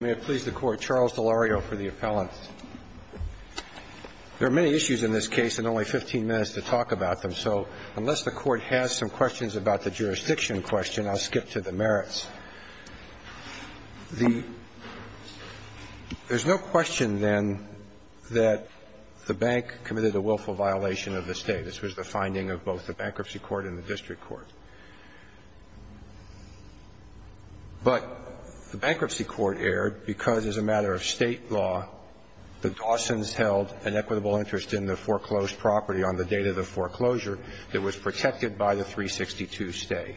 May it please the Court, Charles Delario for the appellant. There are many issues in this case and only 15 minutes to talk about them, so unless the Court has some questions about the jurisdiction question, I'll skip to the merits. There's no question, then, that the bank committed a willful violation of the state. This was the finding of both the bankruptcy court and the district court. But the bankruptcy court erred because, as a matter of state law, the Dawsons held an equitable interest in the foreclosed property on the date of the foreclosure that was protected by the 362 stay.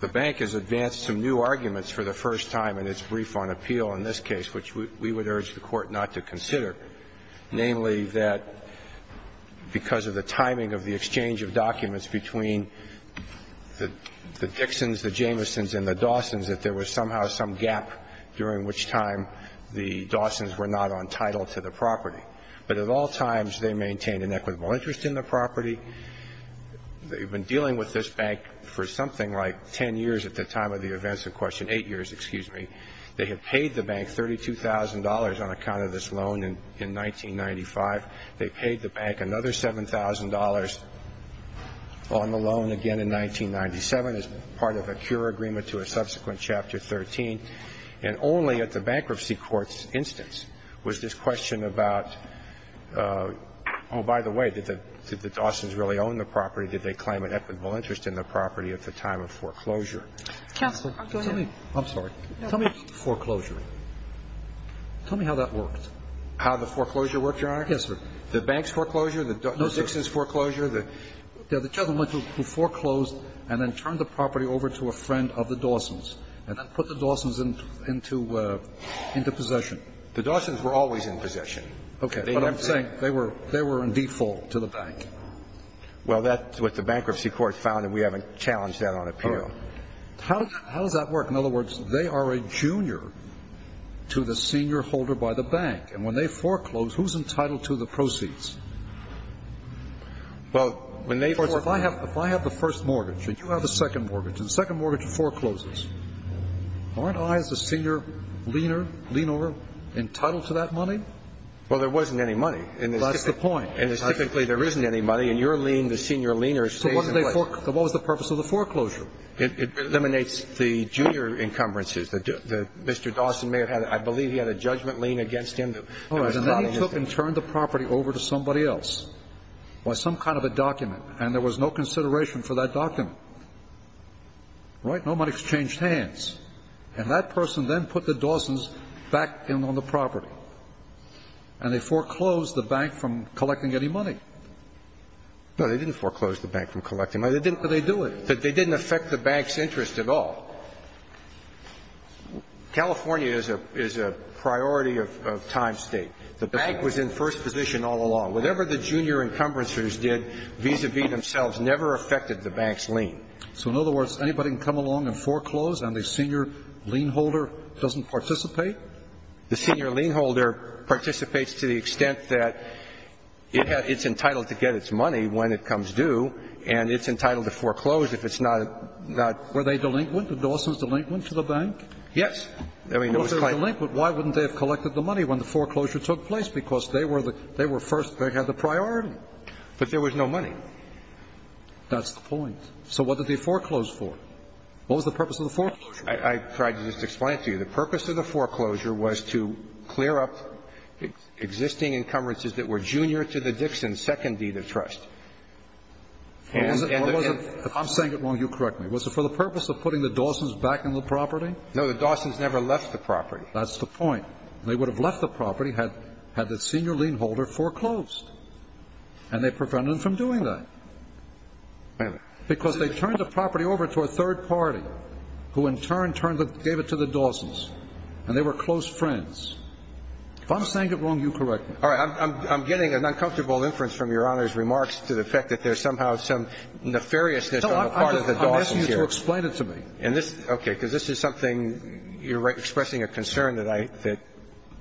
The bank has advanced some new arguments for the first time in its brief on appeal in this case, which we would urge the Court not to consider. Namely, that because of the timing of the exchange of documents between the Dixons, the Jamesons, and the Dawsons, that there was somehow some gap during which time the Dawsons were not entitled to the property. But at all times, they maintained an equitable interest in the property. They've been dealing with this bank for something like 10 years at the time of the events in question. Eight years, excuse me. They have paid the bank $32,000 on account of this loan in 1995. They paid the bank another $7,000 on the loan again in 1997 as part of a cure agreement to a subsequent Chapter 13. And only at the bankruptcy court's instance was this question about, oh, by the way, did the Dawsons really own the property? Did they claim an equitable interest in the property at the time of foreclosure? I'm sorry. Tell me foreclosure. Tell me how that worked. How the foreclosure worked, Your Honor? Yes, sir. The bank's foreclosure? The Dixons' foreclosure? The gentleman who foreclosed and then turned the property over to a friend of the Dawsons and then put the Dawsons into possession. The Dawsons were always in possession. Okay. But I'm saying they were in default to the bank. Well, that's what the bankruptcy court found, and we haven't challenged that on appeal. How does that work? In other words, they are a junior to the senior holder by the bank. And when they foreclose, who's entitled to the proceeds? Well, when they foreclose. If I have the first mortgage and you have the second mortgage, and the second mortgage forecloses, aren't I as the senior leaner entitled to that money? Well, there wasn't any money. That's the point. And typically there isn't any money, and you're lean, the senior leaner stays in place. What was the purpose of the foreclosure? It eliminates the junior encumbrances that Mr. Dawson may have had. I believe he had a judgment lean against him. All right. And then he took and turned the property over to somebody else or some kind of a document, and there was no consideration for that document. Right? Nobody exchanged hands. And that person then put the Dawsons back in on the property. And they foreclosed the bank from collecting any money. No, they didn't foreclose the bank from collecting money. But they do it. But they didn't affect the bank's interest at all. California is a priority of time, State. The bank was in first position all along. Whatever the junior encumbrances did vis-à-vis themselves never affected the bank's lean. So, in other words, anybody can come along and foreclose, and the senior lean holder doesn't participate? The senior lean holder participates to the extent that it's entitled to get its money when it comes due, and it's entitled to foreclose if it's not, not. Were they delinquent? The Dawsons delinquent to the bank? Yes. I mean, it was kind of. If they were delinquent, why wouldn't they have collected the money when the foreclosure took place? Because they were the they were first. They had the priority. But there was no money. That's the point. So what did they foreclose for? What was the purpose of the foreclosure? I tried to just explain it to you. The purpose of the foreclosure was to clear up existing encumbrances that were junior to the Dixon's second deed of trust. If I'm saying it wrong, you correct me. Was it for the purpose of putting the Dawsons back in the property? No, the Dawsons never left the property. That's the point. They would have left the property had the senior lean holder foreclosed, and they prevented them from doing that. Because they turned the property over to a third party, who in turn gave it to the Dawsons, and they were close friends. If I'm saying it wrong, you correct me. All right. I'm getting an uncomfortable inference from Your Honor's remarks to the fact that there's somehow some nefariousness on the part of the Dawsons here. I'm asking you to explain it to me. Okay. Because this is something you're expressing a concern that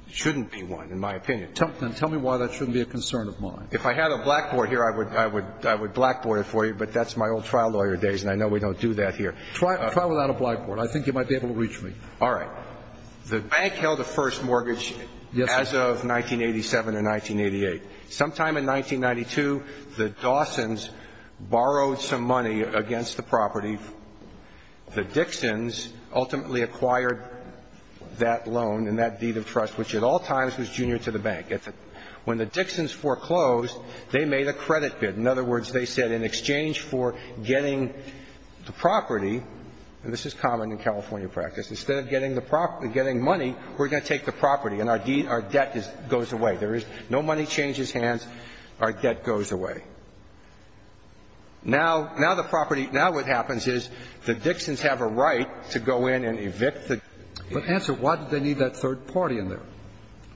shouldn't be one, in my opinion. Then tell me why that shouldn't be a concern of mine. If I had a blackboard here, I would blackboard it for you, but that's my old trial lawyer days, and I know we don't do that here. Try without a blackboard. I think you might be able to reach me. All right. The bank held a first mortgage as of 1987 or 1988. Sometime in 1992, the Dawsons borrowed some money against the property. The Dixons ultimately acquired that loan and that deed of trust, which at all times was junior to the bank. When the Dixons foreclosed, they made a credit bid. In other words, they said in exchange for getting the property, and this is common in California practice. Instead of getting the property, getting money, we're going to take the property and our debt goes away. There is no money changes hands. Our debt goes away. Now, the property, now what happens is the Dixons have a right to go in and evict the Dixons. But answer, why did they need that third party in there?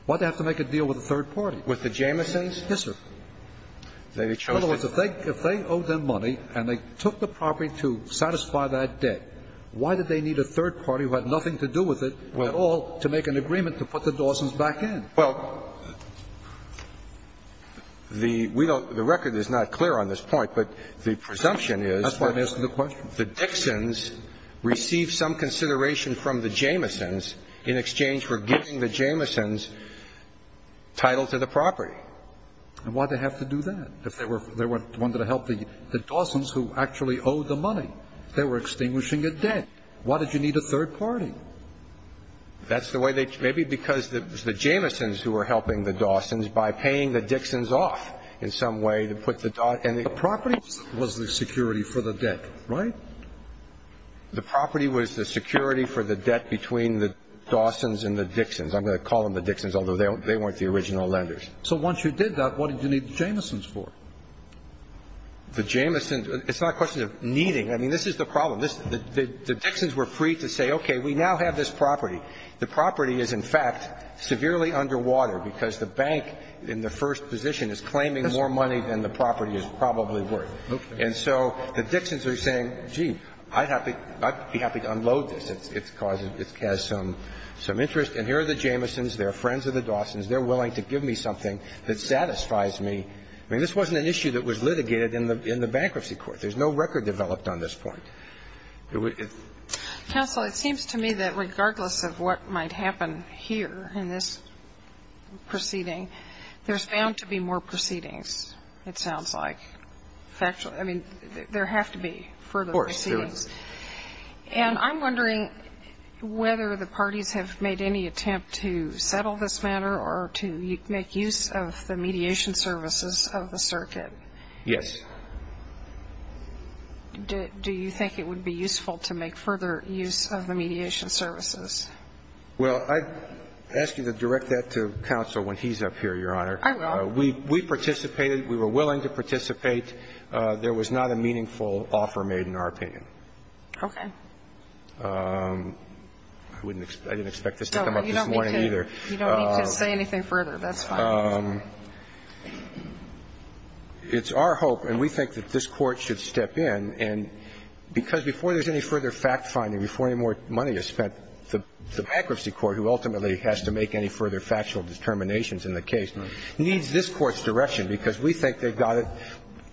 Why did they have to make a deal with a third party? With the Jamisons? Yes, sir. In other words, if they owe them money and they took the property to satisfy that debt, why did they need a third party who had nothing to do with it at all to make an agreement to put the Dawsons back in? Well, the record is not clear on this point, but the presumption is that the Dixons received some consideration from the Jamisons in exchange for giving the Jamisons title to the property. And why did they have to do that if they wanted to help the Dawsons who actually owe the money? They were extinguishing a debt. Why did you need a third party? That's the way they, maybe because it was the Jamisons who were helping the Dawsons by paying the Dixons off in some way to put the, and the property was the security for the debt, right? The property was the security for the debt between the Dawsons and the Dixons. I'm going to call them the Dixons, although they weren't the original lenders. So once you did that, what did you need the Jamisons for? The Jamisons, it's not a question of needing. I mean, this is the problem. The Dixons were free to say, okay, we now have this property. The property is, in fact, severely underwater because the bank in the first position is claiming more money than the property is probably worth. And so the Dixons are saying, gee, I'd be happy to unload this. It has some interest. And here are the Jamisons. They're friends of the Dawsons. They're willing to give me something that satisfies me. I mean, this wasn't an issue that was litigated in the bankruptcy court. There's no record developed on this point. Counsel, it seems to me that regardless of what might happen here in this proceeding, there's bound to be more proceedings, it sounds like. I mean, there have to be further proceedings. Of course. And I'm wondering whether the parties have made any attempt to settle this matter or to make use of the mediation services of the circuit. Yes. Do you think it would be useful to make further use of the mediation services? Well, I'd ask you to direct that to counsel when he's up here, Your Honor. I will. We participated. We were willing to participate. There was not a meaningful offer made, in our opinion. Okay. I didn't expect this to come up this morning either. You don't need to say anything further. That's fine. It's our hope, and we think that this Court should step in. And because before there's any further fact-finding, before any more money is spent, the bankruptcy court, who ultimately has to make any further factual determinations in the case, needs this Court's direction, because we think they've got it.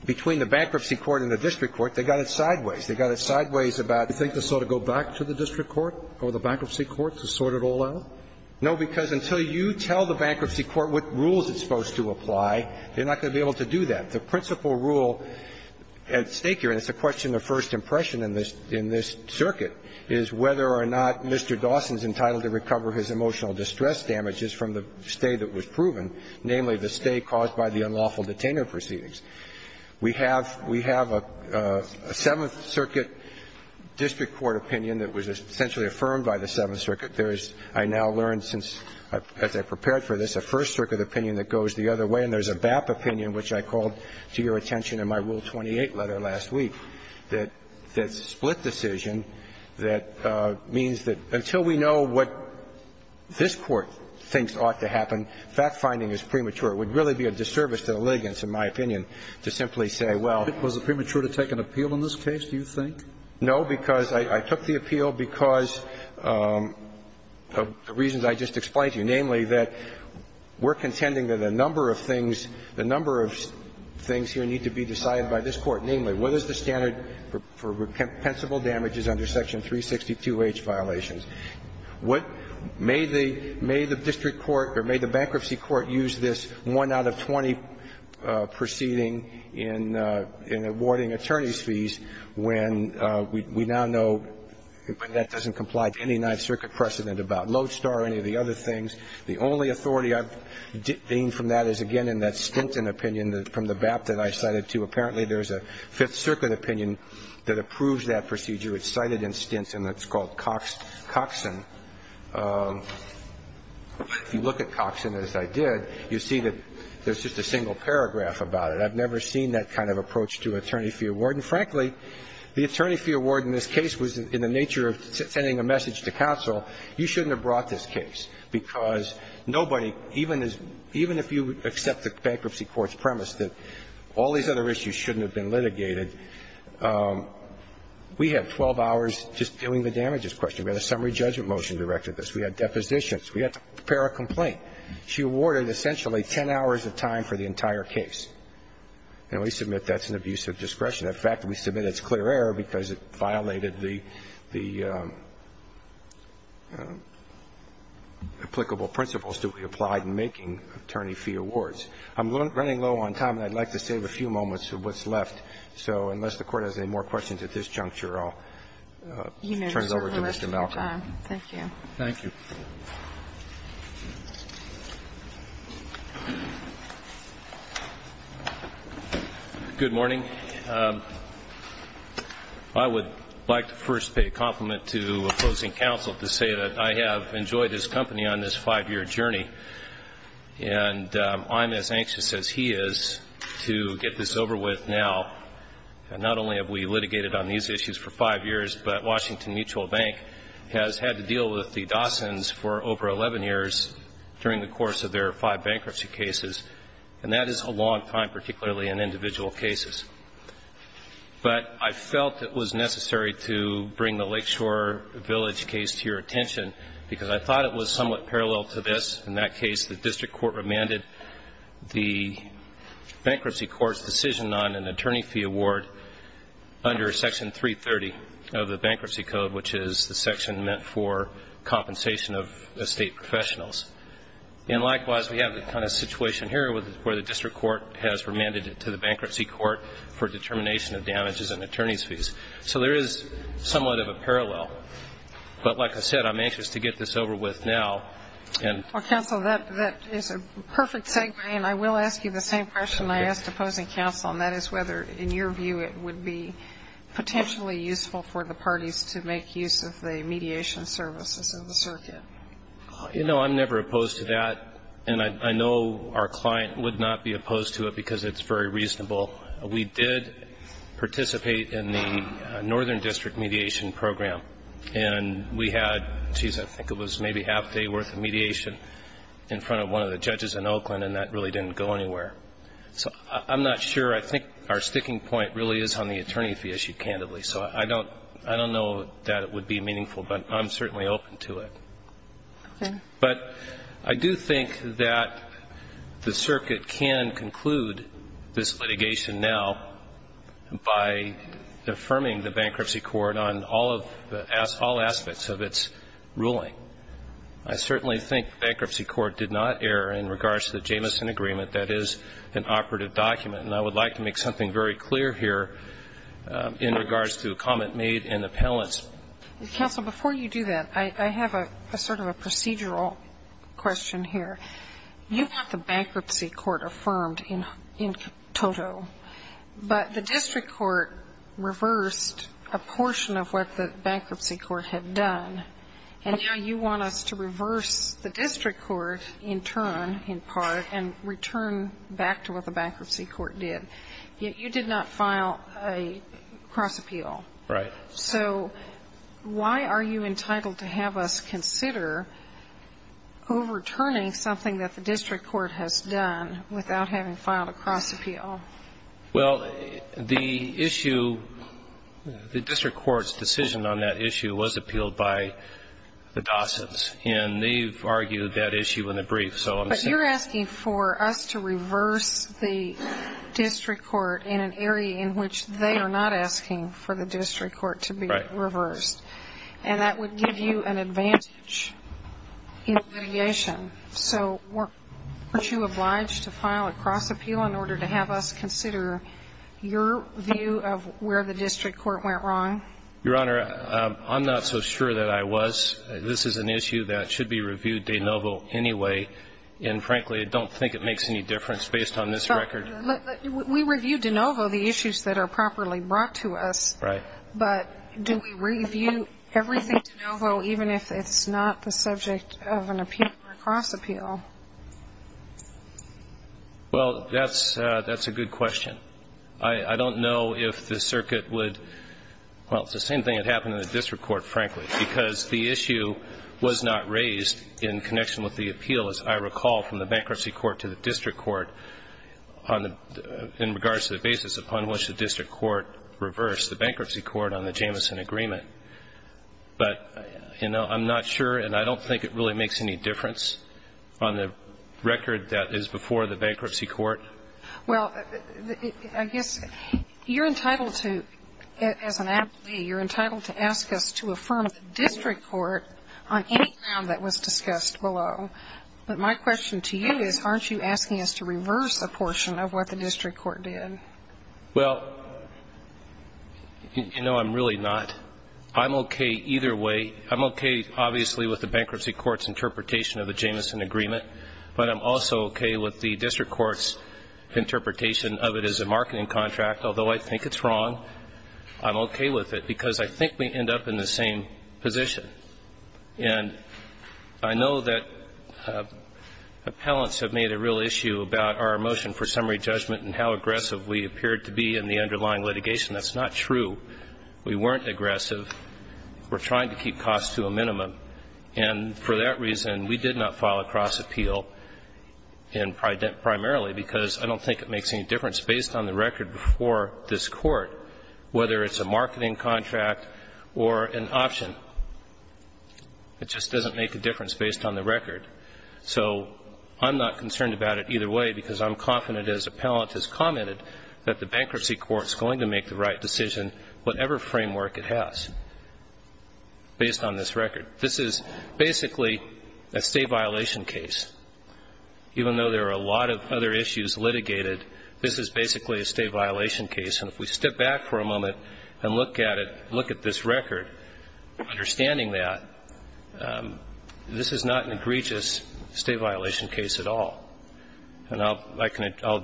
Between the bankruptcy court and the district court, they've got it sideways. They've got it sideways about do you think to sort of go back to the district court or the bankruptcy court to sort it all out? No, because until you tell the bankruptcy court what rules it's supposed to apply, they're not going to be able to do that. The principal rule at stake here, and it's a question of first impression in this circuit, is whether or not Mr. Dawson's entitled to recover his emotional distress damages from the stay that was proven, namely the stay caused by the unlawful detainment proceedings. We have a Seventh Circuit district court opinion that was essentially affirmed by the Seventh Circuit. There's, I now learned since, as I prepared for this, a First Circuit opinion that goes the other way, and there's a BAP opinion, which I called to your attention in my Rule 28 letter last week, that that's a split decision that means that until we know what this Court thinks ought to happen, fact-finding is premature. It would really be a disservice to the litigants, in my opinion, to simply say, well Was it premature to take an appeal in this case, do you think? No, because I took the appeal because of the reasons I just explained to you, namely that we're contending that a number of things, a number of things here need to be decided by this Court. Namely, what is the standard for compensable damages under Section 362H violations? May the district court or may the bankruptcy court use this 1 out of 20 proceeding in awarding attorney's fees when we now know that doesn't comply to any Ninth Circuit precedent about Lodestar or any of the other things. The only authority I've gained from that is, again, in that Stinson opinion from the BAP that I cited, too. Apparently, there's a Fifth Circuit opinion that approves that procedure. It's cited in Stinson. It's called Coxon. If you look at Coxon, as I did, you'll see that there's just a single paragraph about it. I've never seen that kind of approach to attorney fee award. And frankly, the attorney fee award in this case was in the nature of sending a message to counsel, you shouldn't have brought this case, because nobody, even if you accept the bankruptcy court's premise that all these other issues shouldn't have been litigated, we had 12 hours just doing the damages question. We had a summary judgment motion directed to this. We had depositions. We had to prepare a complaint. She awarded essentially 10 hours of time for the entire case. And we submit that's an abuse of discretion. In fact, we submit it's clear error because it violated the applicable principles to be applied in making attorney fee awards. I'm running low on time, and I'd like to save a few moments of what's left. So unless the Court has any more questions at this juncture, I'll turn it over to Mr. Malcolm. Thank you. Thank you. Good morning. I would like to first pay a compliment to opposing counsel to say that I have enjoyed his company on this five-year journey, and I'm as anxious as he is to get this over with now. And not only have we litigated on these issues for five years, but Washington Mutual Bank has had to deal with the Dawsons for over 11 years during the course of their five bankruptcy cases. And that is a long time, particularly in individual cases. But I felt it was necessary to bring the Lakeshore Village case to your attention because I thought it was somewhat parallel to this. In that case, the district court remanded the bankruptcy court's decision on an is the section meant for compensation of estate professionals. And likewise, we have the kind of situation here where the district court has remanded it to the bankruptcy court for determination of damages and attorney's fees. So there is somewhat of a parallel. But like I said, I'm anxious to get this over with now. Well, counsel, that is a perfect segue, and I will ask you the same question I asked opposing counsel, and that is whether, in your view, it would be potentially useful for the parties to make use of the mediation services in the circuit. You know, I'm never opposed to that, and I know our client would not be opposed to it because it's very reasonable. We did participate in the Northern District Mediation Program, and we had, I think it was maybe half a day worth of mediation in front of one of the judges in Oakland, and that really didn't go anywhere. So I'm not sure. I think our sticking point really is on the attorney fee issue, candidly. So I don't know that it would be meaningful, but I'm certainly open to it. Okay. But I do think that the circuit can conclude this litigation now by affirming the bankruptcy court on all aspects of its ruling. I certainly think the bankruptcy court did not err in regards to the Jamison agreement, that is an operative document, and I would like to make something very clear here in regards to the comment made in the appellants. Counsel, before you do that, I have a sort of a procedural question here. You have the bankruptcy court affirmed in toto, but the district court reversed a portion of what the bankruptcy court had done, and now you want us to reverse the district court in turn, in part, and return back to what the bankruptcy court did. You did not file a cross appeal. Right. So why are you entitled to have us consider overturning something that the district court has done without having filed a cross appeal? Well, the issue, the district court's decision on that issue was appealed by the Dawsons, and they've argued that issue in the brief. But you're asking for us to reverse the district court in an area in which they are not asking for the district court to be reversed, and that would give you an advantage in litigation. So weren't you obliged to file a cross appeal in order to have us consider your view of where the district court went wrong? Your Honor, I'm not so sure that I was. This is an issue that should be reviewed de novo anyway, and frankly I don't think it makes any difference based on this record. We review de novo the issues that are properly brought to us. Right. But do we review everything de novo even if it's not the subject of an appeal or a cross appeal? Well, that's a good question. I don't know if the circuit would, well, it's the same thing that happened in the district court, frankly, because the issue was not raised in connection with the appeal, as I recall, from the bankruptcy court to the district court in regards to the basis upon which the district court reversed. It was the bankruptcy court on the Jamison agreement. But, you know, I'm not sure, and I don't think it really makes any difference on the record that is before the bankruptcy court. Well, I guess you're entitled to, as an aptly, you're entitled to ask us to affirm the district court on any ground that was discussed below. But my question to you is aren't you asking us to reverse a portion of what the district court did? Well, you know, I'm really not. I'm okay either way. I'm okay, obviously, with the bankruptcy court's interpretation of the Jamison agreement, but I'm also okay with the district court's interpretation of it as a marketing contract. Although I think it's wrong, I'm okay with it because I think we end up in the same position. And I know that appellants have made a real issue about our motion for summary judgment and how aggressive we appeared to be in the underlying litigation. That's not true. We weren't aggressive. We're trying to keep costs to a minimum. And for that reason, we did not file a cross-appeal primarily because I don't think it makes any difference based on the record before this Court whether it's a marketing contract or an option. It just doesn't make a difference based on the record. So I'm not concerned about it either way because I'm confident, as appellant has commented, that the bankruptcy court is going to make the right decision, whatever framework it has, based on this record. This is basically a state violation case. Even though there are a lot of other issues litigated, this is basically a state violation case. And if we step back for a moment and look at it, look at this record, understanding that, this is not an egregious state violation case at all. And I'll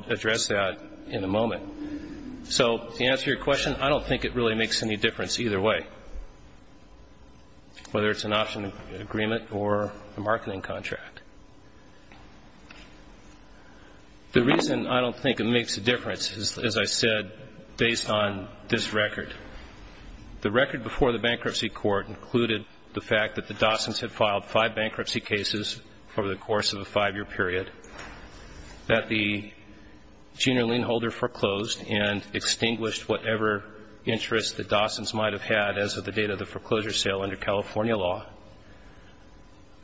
address that in a moment. So to answer your question, I don't think it really makes any difference either way, whether it's an option agreement or a marketing contract. The reason I don't think it makes a difference is, as I said, based on this record. The record before the bankruptcy court included the fact that the Dawsons had filed five bankruptcy cases over the course of a five-year period, that the junior lien holder foreclosed and extinguished whatever interest the Dawsons might have had as of the date of the foreclosure sale under California law.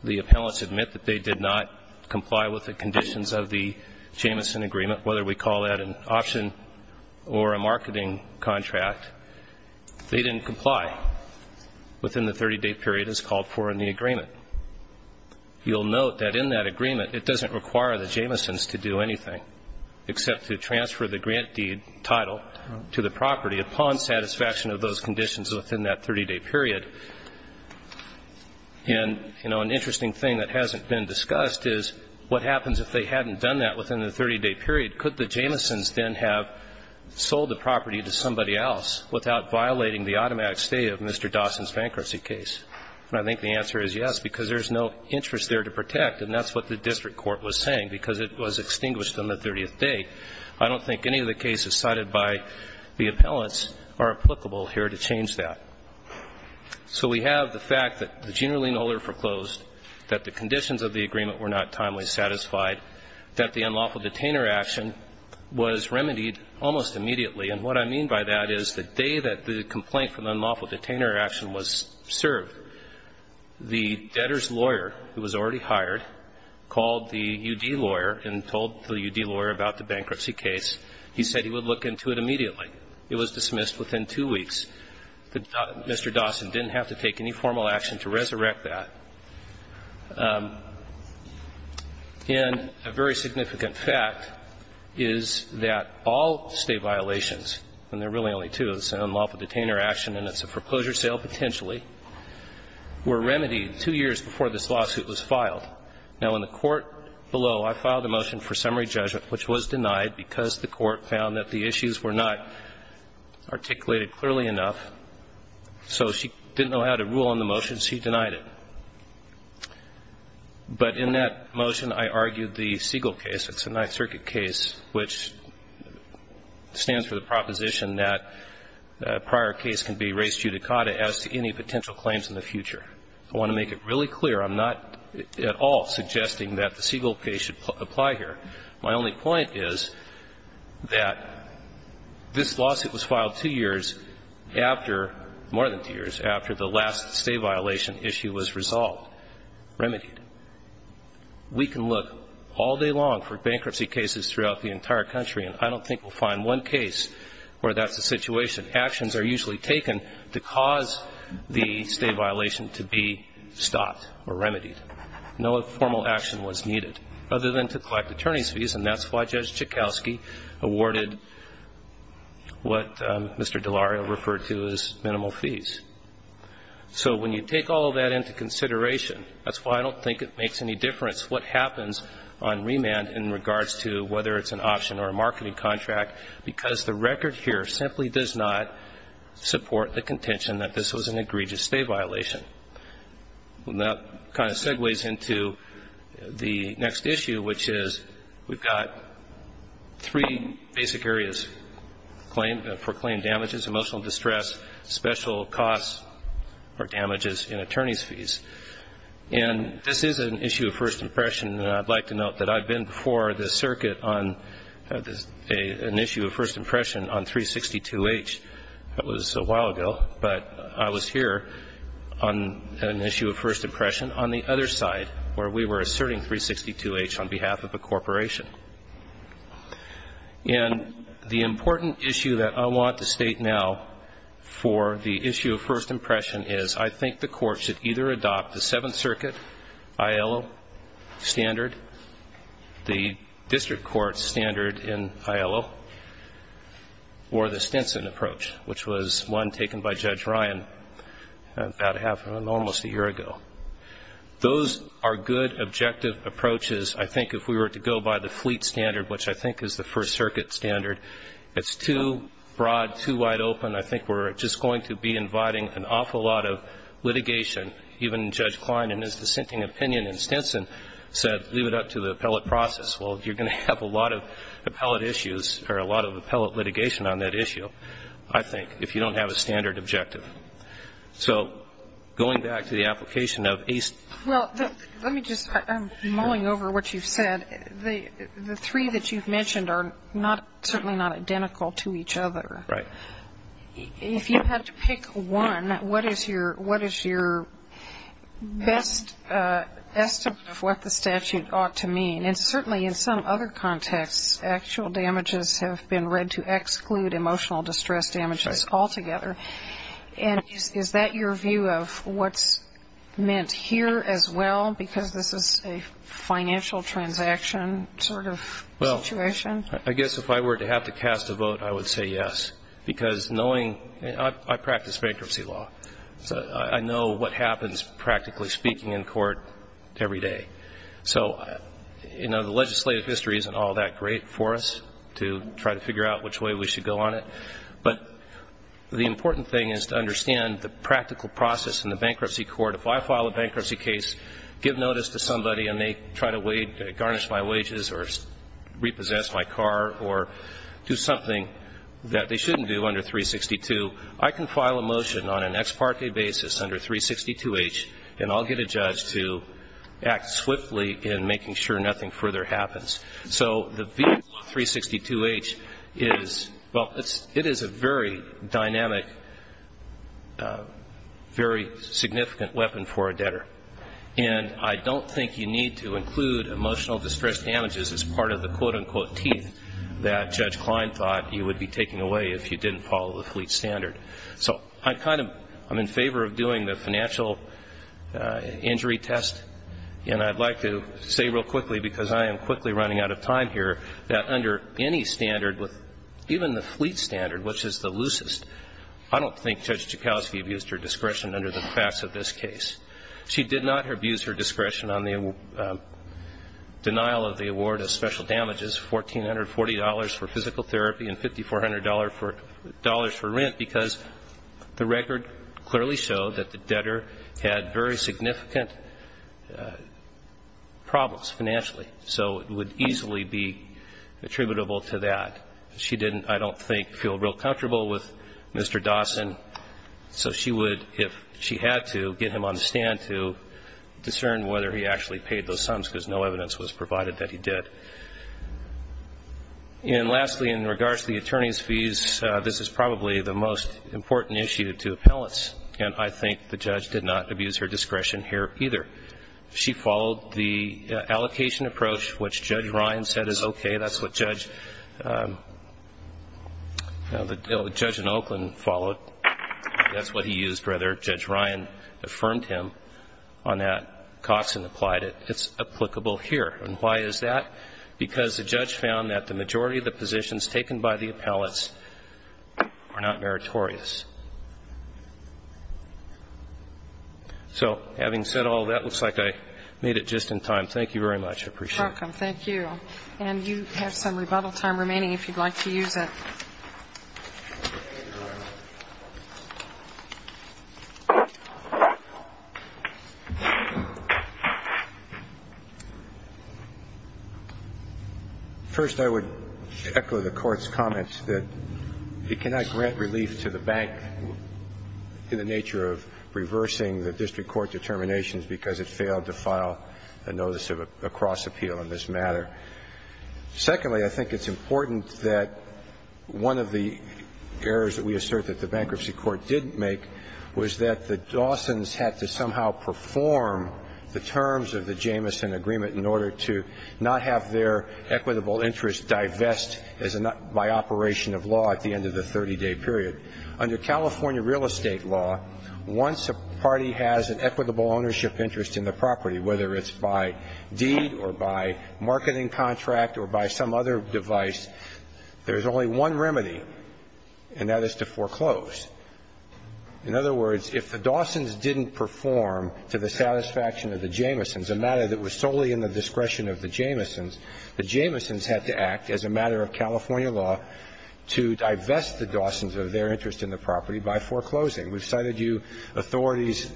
The appellants admit that they did not comply with the conditions of the Jamison agreement, whether we call that an option or a marketing contract. They didn't comply within the 30-day period as called for in the agreement. You'll note that in that agreement, it doesn't require the Jamisons to do anything except to transfer the grant deed title to the property. Upon satisfaction of those conditions within that 30-day period. And, you know, an interesting thing that hasn't been discussed is what happens if they hadn't done that within the 30-day period? Could the Jamisons then have sold the property to somebody else without violating the automatic stay of Mr. Dawson's bankruptcy case? And I think the answer is yes, because there's no interest there to protect. And that's what the district court was saying, because it was extinguished on the 30th day. I don't think any of the cases cited by the appellants are applicable here to change that. So we have the fact that the generally null and foreclosed, that the conditions of the agreement were not timely satisfied, that the unlawful detainer action was remedied almost immediately. And what I mean by that is the day that the complaint for the unlawful detainer action was served, the debtor's lawyer, who was already hired, called the U.D. lawyer and told the U.D. lawyer about the bankruptcy case. He said he would look into it immediately. It was dismissed within two weeks. Mr. Dawson didn't have to take any formal action to resurrect that. And a very significant fact is that all stay violations, and there are really only two, is an unlawful detainer action and it's a foreclosure sale potentially, were remedied two years before this lawsuit was filed. Now, in the court below, I filed a motion for summary judgment, which was denied because the court found that the issues were not articulated clearly enough. So she didn't know how to rule on the motion. She denied it. But in that motion, I argued the Siegel case. It's a Ninth Circuit case which stands for the proposition that a prior case can be raised judicata as to any potential claims in the future. I want to make it really clear. I'm not at all suggesting that the Siegel case should apply here. My only point is that this lawsuit was filed two years after, more than two years after the last stay violation issue was resolved, remedied. We can look all day long for bankruptcy cases throughout the entire country, and I don't think we'll find one case where that's the situation. Actions are usually taken to cause the stay violation to be stopped or remedied. No formal action was needed other than to collect attorney's fees, and that's why Judge Joukowsky awarded what Mr. Delario referred to as minimal fees. So when you take all of that into consideration, that's why I don't think it makes any difference what happens on remand in regards to whether it's an option or a marketing contract, because the record here simply does not support the contention that this was an egregious stay violation. And that kind of segues into the next issue, which is we've got three basic areas. For claim damages, emotional distress, special costs, or damages in attorney's fees. And this is an issue of first impression, and I'd like to note that I've been before the circuit on an issue of first impression on 362H. That was a while ago, but I was here on an issue of first impression on the other side where we were asserting 362H on behalf of a corporation. And the important issue that I want to state now for the issue of first impression is I think the court should either adopt the Seventh Circuit ILO standard, the district court standard in ILO, or the Stinson approach, which was one taken by Judge Ryan about a half, almost a year ago. Those are good objective approaches. I think if we were to go by the Fleet standard, which I think is the First Circuit standard, it's too broad, too wide open. I think we're just going to be inviting an awful lot of litigation. Even Judge Klein in his dissenting opinion in Stinson said leave it up to the appellate process. Well, you're going to have a lot of appellate issues or a lot of appellate litigation on that issue, I think, if you don't have a standard objective. So going back to the application of a ---- Well, let me just ---- I'm mulling over what you've said. The three that you've mentioned are certainly not identical to each other. Right. If you had to pick one, what is your best estimate of what the statute ought to mean? And certainly in some other contexts, actual damages have been read to exclude emotional distress damages altogether. Right. And is that your view of what's meant here as well, because this is a financial transaction sort of situation? I guess if I were to have to cast a vote, I would say yes. Because knowing ---- I practice bankruptcy law. So I know what happens, practically speaking, in court every day. So, you know, the legislative history isn't all that great for us to try to figure out which way we should go on it. But the important thing is to understand the practical process in the bankruptcy court. If I file a bankruptcy case, give notice to somebody and they try to garnish my wages or repossess my car or do something that they shouldn't do under 362, I can file a motion on an ex parte basis under 362H and I'll get a judge to act swiftly in making sure nothing further happens. So the vehicle of 362H is ---- well, it is a very dynamic, very significant weapon for a debtor. And I don't think you need to include emotional distress damages as part of the quote-unquote teeth that Judge Klein thought you would be taking away if you didn't follow the fleet standard. So I'm in favor of doing the financial injury test. And I'd like to say real quickly, because I am quickly running out of time here, that under any standard, even the fleet standard, which is the loosest, I don't think Judge Joukowsky abused her discretion under the facts of this case. She did not abuse her discretion on the denial of the award of special damages, $1,440 for physical therapy and $5,400 for rent, because the record clearly showed that the debtor had very significant problems financially, so it would easily be attributable to that. She didn't, I don't think, feel real comfortable with Mr. Dawson, so she would, if she had to, get him on the stand to discern whether he actually paid those sums, because no evidence was provided that he did. And lastly, in regards to the attorney's fees, this is probably the most important issue to appellants, and I think the judge did not abuse her discretion here either. She followed the allocation approach, which Judge Ryan said is okay. That's what Judge in Oakland followed. That's what he used, rather. Judge Ryan affirmed him on that. Coxson applied it. It's applicable here. And why is that? Because the judge found that the majority of the positions taken by the appellants are not meritorious. So having said all that, it looks like I made it just in time. Thank you very much. I appreciate it. You're welcome. Thank you. And you have some rebuttal time remaining if you'd like to use it. First, I would echo the Court's comments that it cannot grant relief to the bank in the nature of reversing the district court determinations because it failed to file a notice of a cross appeal in this matter. Secondly, I think it's important that one of the errors that we assert that the bankruptcy court didn't make was that the Dawsons had to somehow perform the terms of the Jamison agreement in order to not have their equitable interest divest by operation of law at the end of the 30-day period. Under California real estate law, once a party has an equitable ownership interest in the property, whether it's by deed or by marketing contract or by some other device, there's only one remedy, and that is to foreclose. In other words, if the Dawsons didn't perform to the satisfaction of the Jamisons, a matter that was solely in the discretion of the Jamisons, the Jamisons had to act as a matter of California law to divest the Dawsons of their interest in the property by foreclosing. We've cited you authorities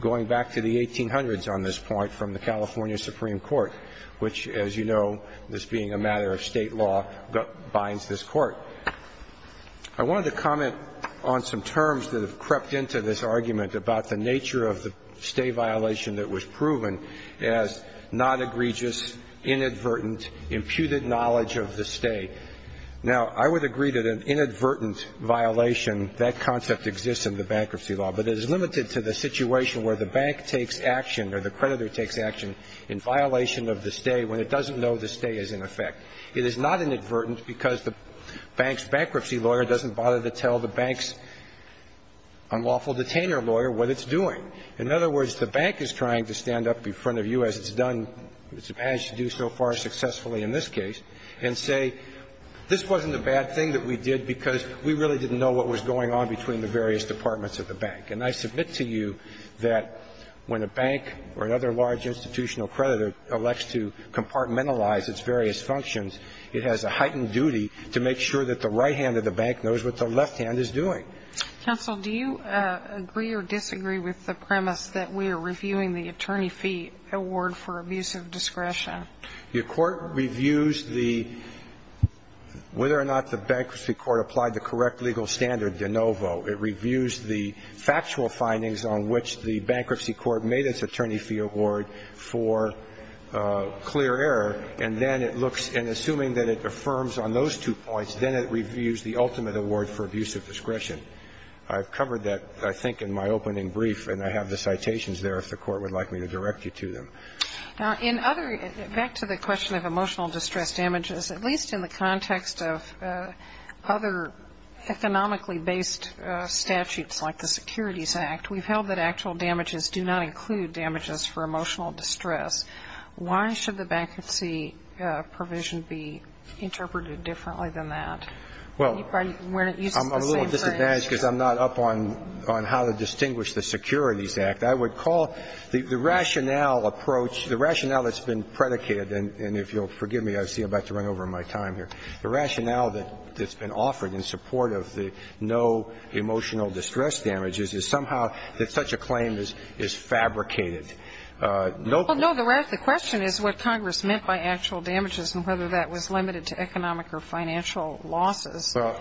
going back to the 1800s on this point from the California Supreme Court, which, as you know, this being a matter of state law, binds this Court. I wanted to comment on some terms that have crept into this argument about the nature of the stay violation that was proven as not egregious, inadvertent, imputed knowledge of the stay. Now, I would agree that an inadvertent violation, that concept exists in the bankruptcy law, but it is limited to the situation where the bank takes action or the creditor takes action in violation of the stay when it doesn't know the stay is in effect. It is not inadvertent because the bank's bankruptcy lawyer doesn't bother to tell the bank's unlawful detainer lawyer what it's doing. In other words, the bank is trying to stand up in front of you, as it's done, as it's managed to do so far successfully in this case, and say, this wasn't a bad thing that we did because we really didn't know what was going on between the various departments of the bank. And I submit to you that when a bank or another large institutional creditor elects to compartmentalize its various functions, it has a heightened duty to make sure that the right hand of the bank knows what the left hand is doing. Counsel, do you agree or disagree with the premise that we are reviewing the attorney fee award for abuse of discretion? The court reviews the – whether or not the bankruptcy court applied the correct legal standard de novo. It reviews the factual findings on which the bankruptcy court made its attorney fee award for clear error, and then it looks – and assuming that it affirms on those two points, then it reviews the ultimate award for abuse of discretion. I've covered that, I think, in my opening brief, and I have the citations there if the court would like me to direct you to them. Now, in other – back to the question of emotional distress damages, at least in the context of other economically-based statutes like the Securities Act, we've held that actual damages do not include damages for emotional distress. Why should the bankruptcy provision be interpreted differently than that? Well, I'm a little disadvantaged because I'm not up on how to distinguish the Securities Act. I would call the rationale approach – the rationale that's been predicated – and if you'll forgive me, I see I'm about to run over my time here. The rationale that's been offered in support of the no emotional distress damages is somehow that such a claim is fabricated. Well, no, the question is what Congress meant by actual damages and whether that was limited to economic or financial losses. Well,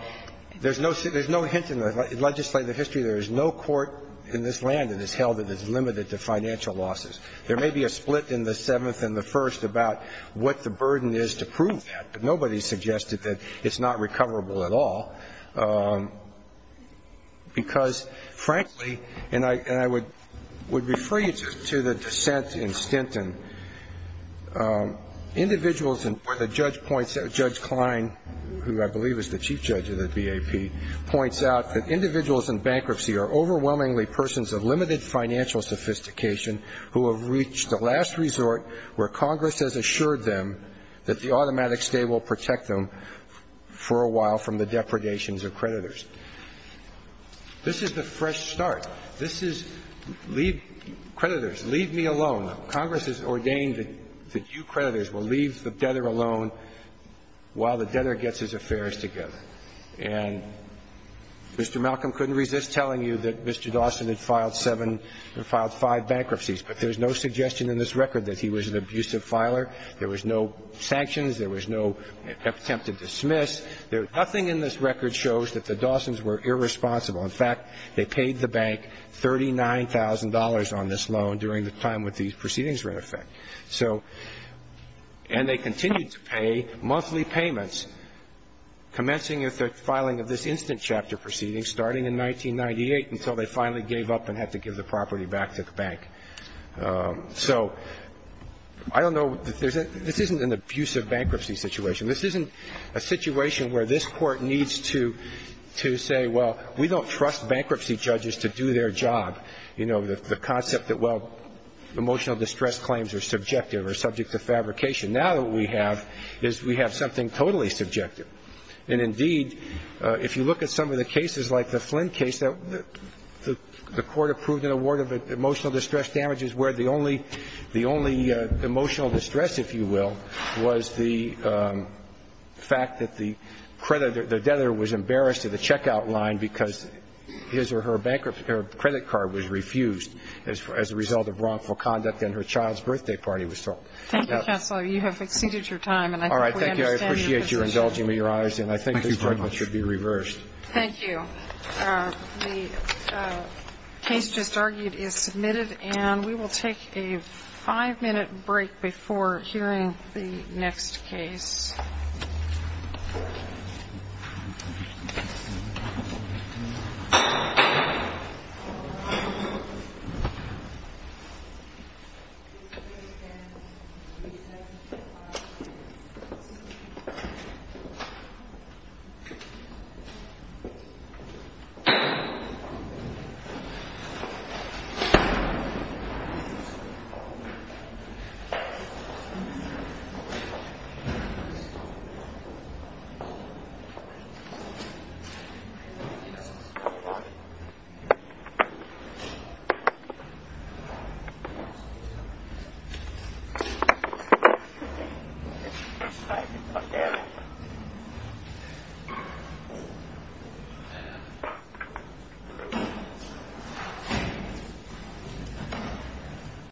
there's no hint in the legislative history. There is no court in this land that has held it as limited to financial losses. There may be a split in the Seventh and the First about what the burden is to prove that, but nobody suggested that it's not recoverable at all because, frankly – and I would refer you to the dissent in Stinton. Individuals – where the judge points – Judge Klein, who I believe is the chief judge of the BAP, points out that individuals in bankruptcy are overwhelmingly persons of limited financial sophistication who have reached the last resort where Congress has assured them that the automatic stay will protect them for a while from the depredations of creditors. This is the fresh start. This is – creditors, leave me alone. Congress has ordained that you creditors will leave the debtor alone while the debtor gets his affairs together. And Mr. Malcolm couldn't resist telling you that Mr. Dawson had filed seven – filed five bankruptcies, but there's no suggestion in this record that he was an abusive filer. There was no sanctions. There was no attempt to dismiss. Nothing in this record shows that the Dawsons were irresponsible. In fact, they paid the bank $39,000 on this loan during the time when these proceedings were in effect. So – and they continued to pay monthly payments, commencing with the filing of this instant chapter proceeding starting in 1998 until they finally gave up and had to give the property back to the bank. So I don't know – this isn't an abusive bankruptcy situation. This isn't a situation where this Court needs to say, well, we don't trust bankruptcy judges to do their job. You know, the concept that, well, emotional distress claims are subjective or subject to fabrication. Now what we have is we have something totally subjective. And indeed, if you look at some of the cases like the Flynn case, the Court approved an award of emotional distress damages where the only emotional distress, if you will, was the fact that the creditor – the debtor was embarrassed at the checkout line because his or her credit card was refused as a result of wrongful conduct and her child's birthday party was thwarted. Thank you, Counselor. You have exceeded your time, and I think we understand your position. All right. Thank you. I appreciate your indulging me, Your Honors. And I think this judgment should be reversed. Thank you. The case just argued is submitted. And we will take a five-minute break before hearing the next case. Thank you. Thank you.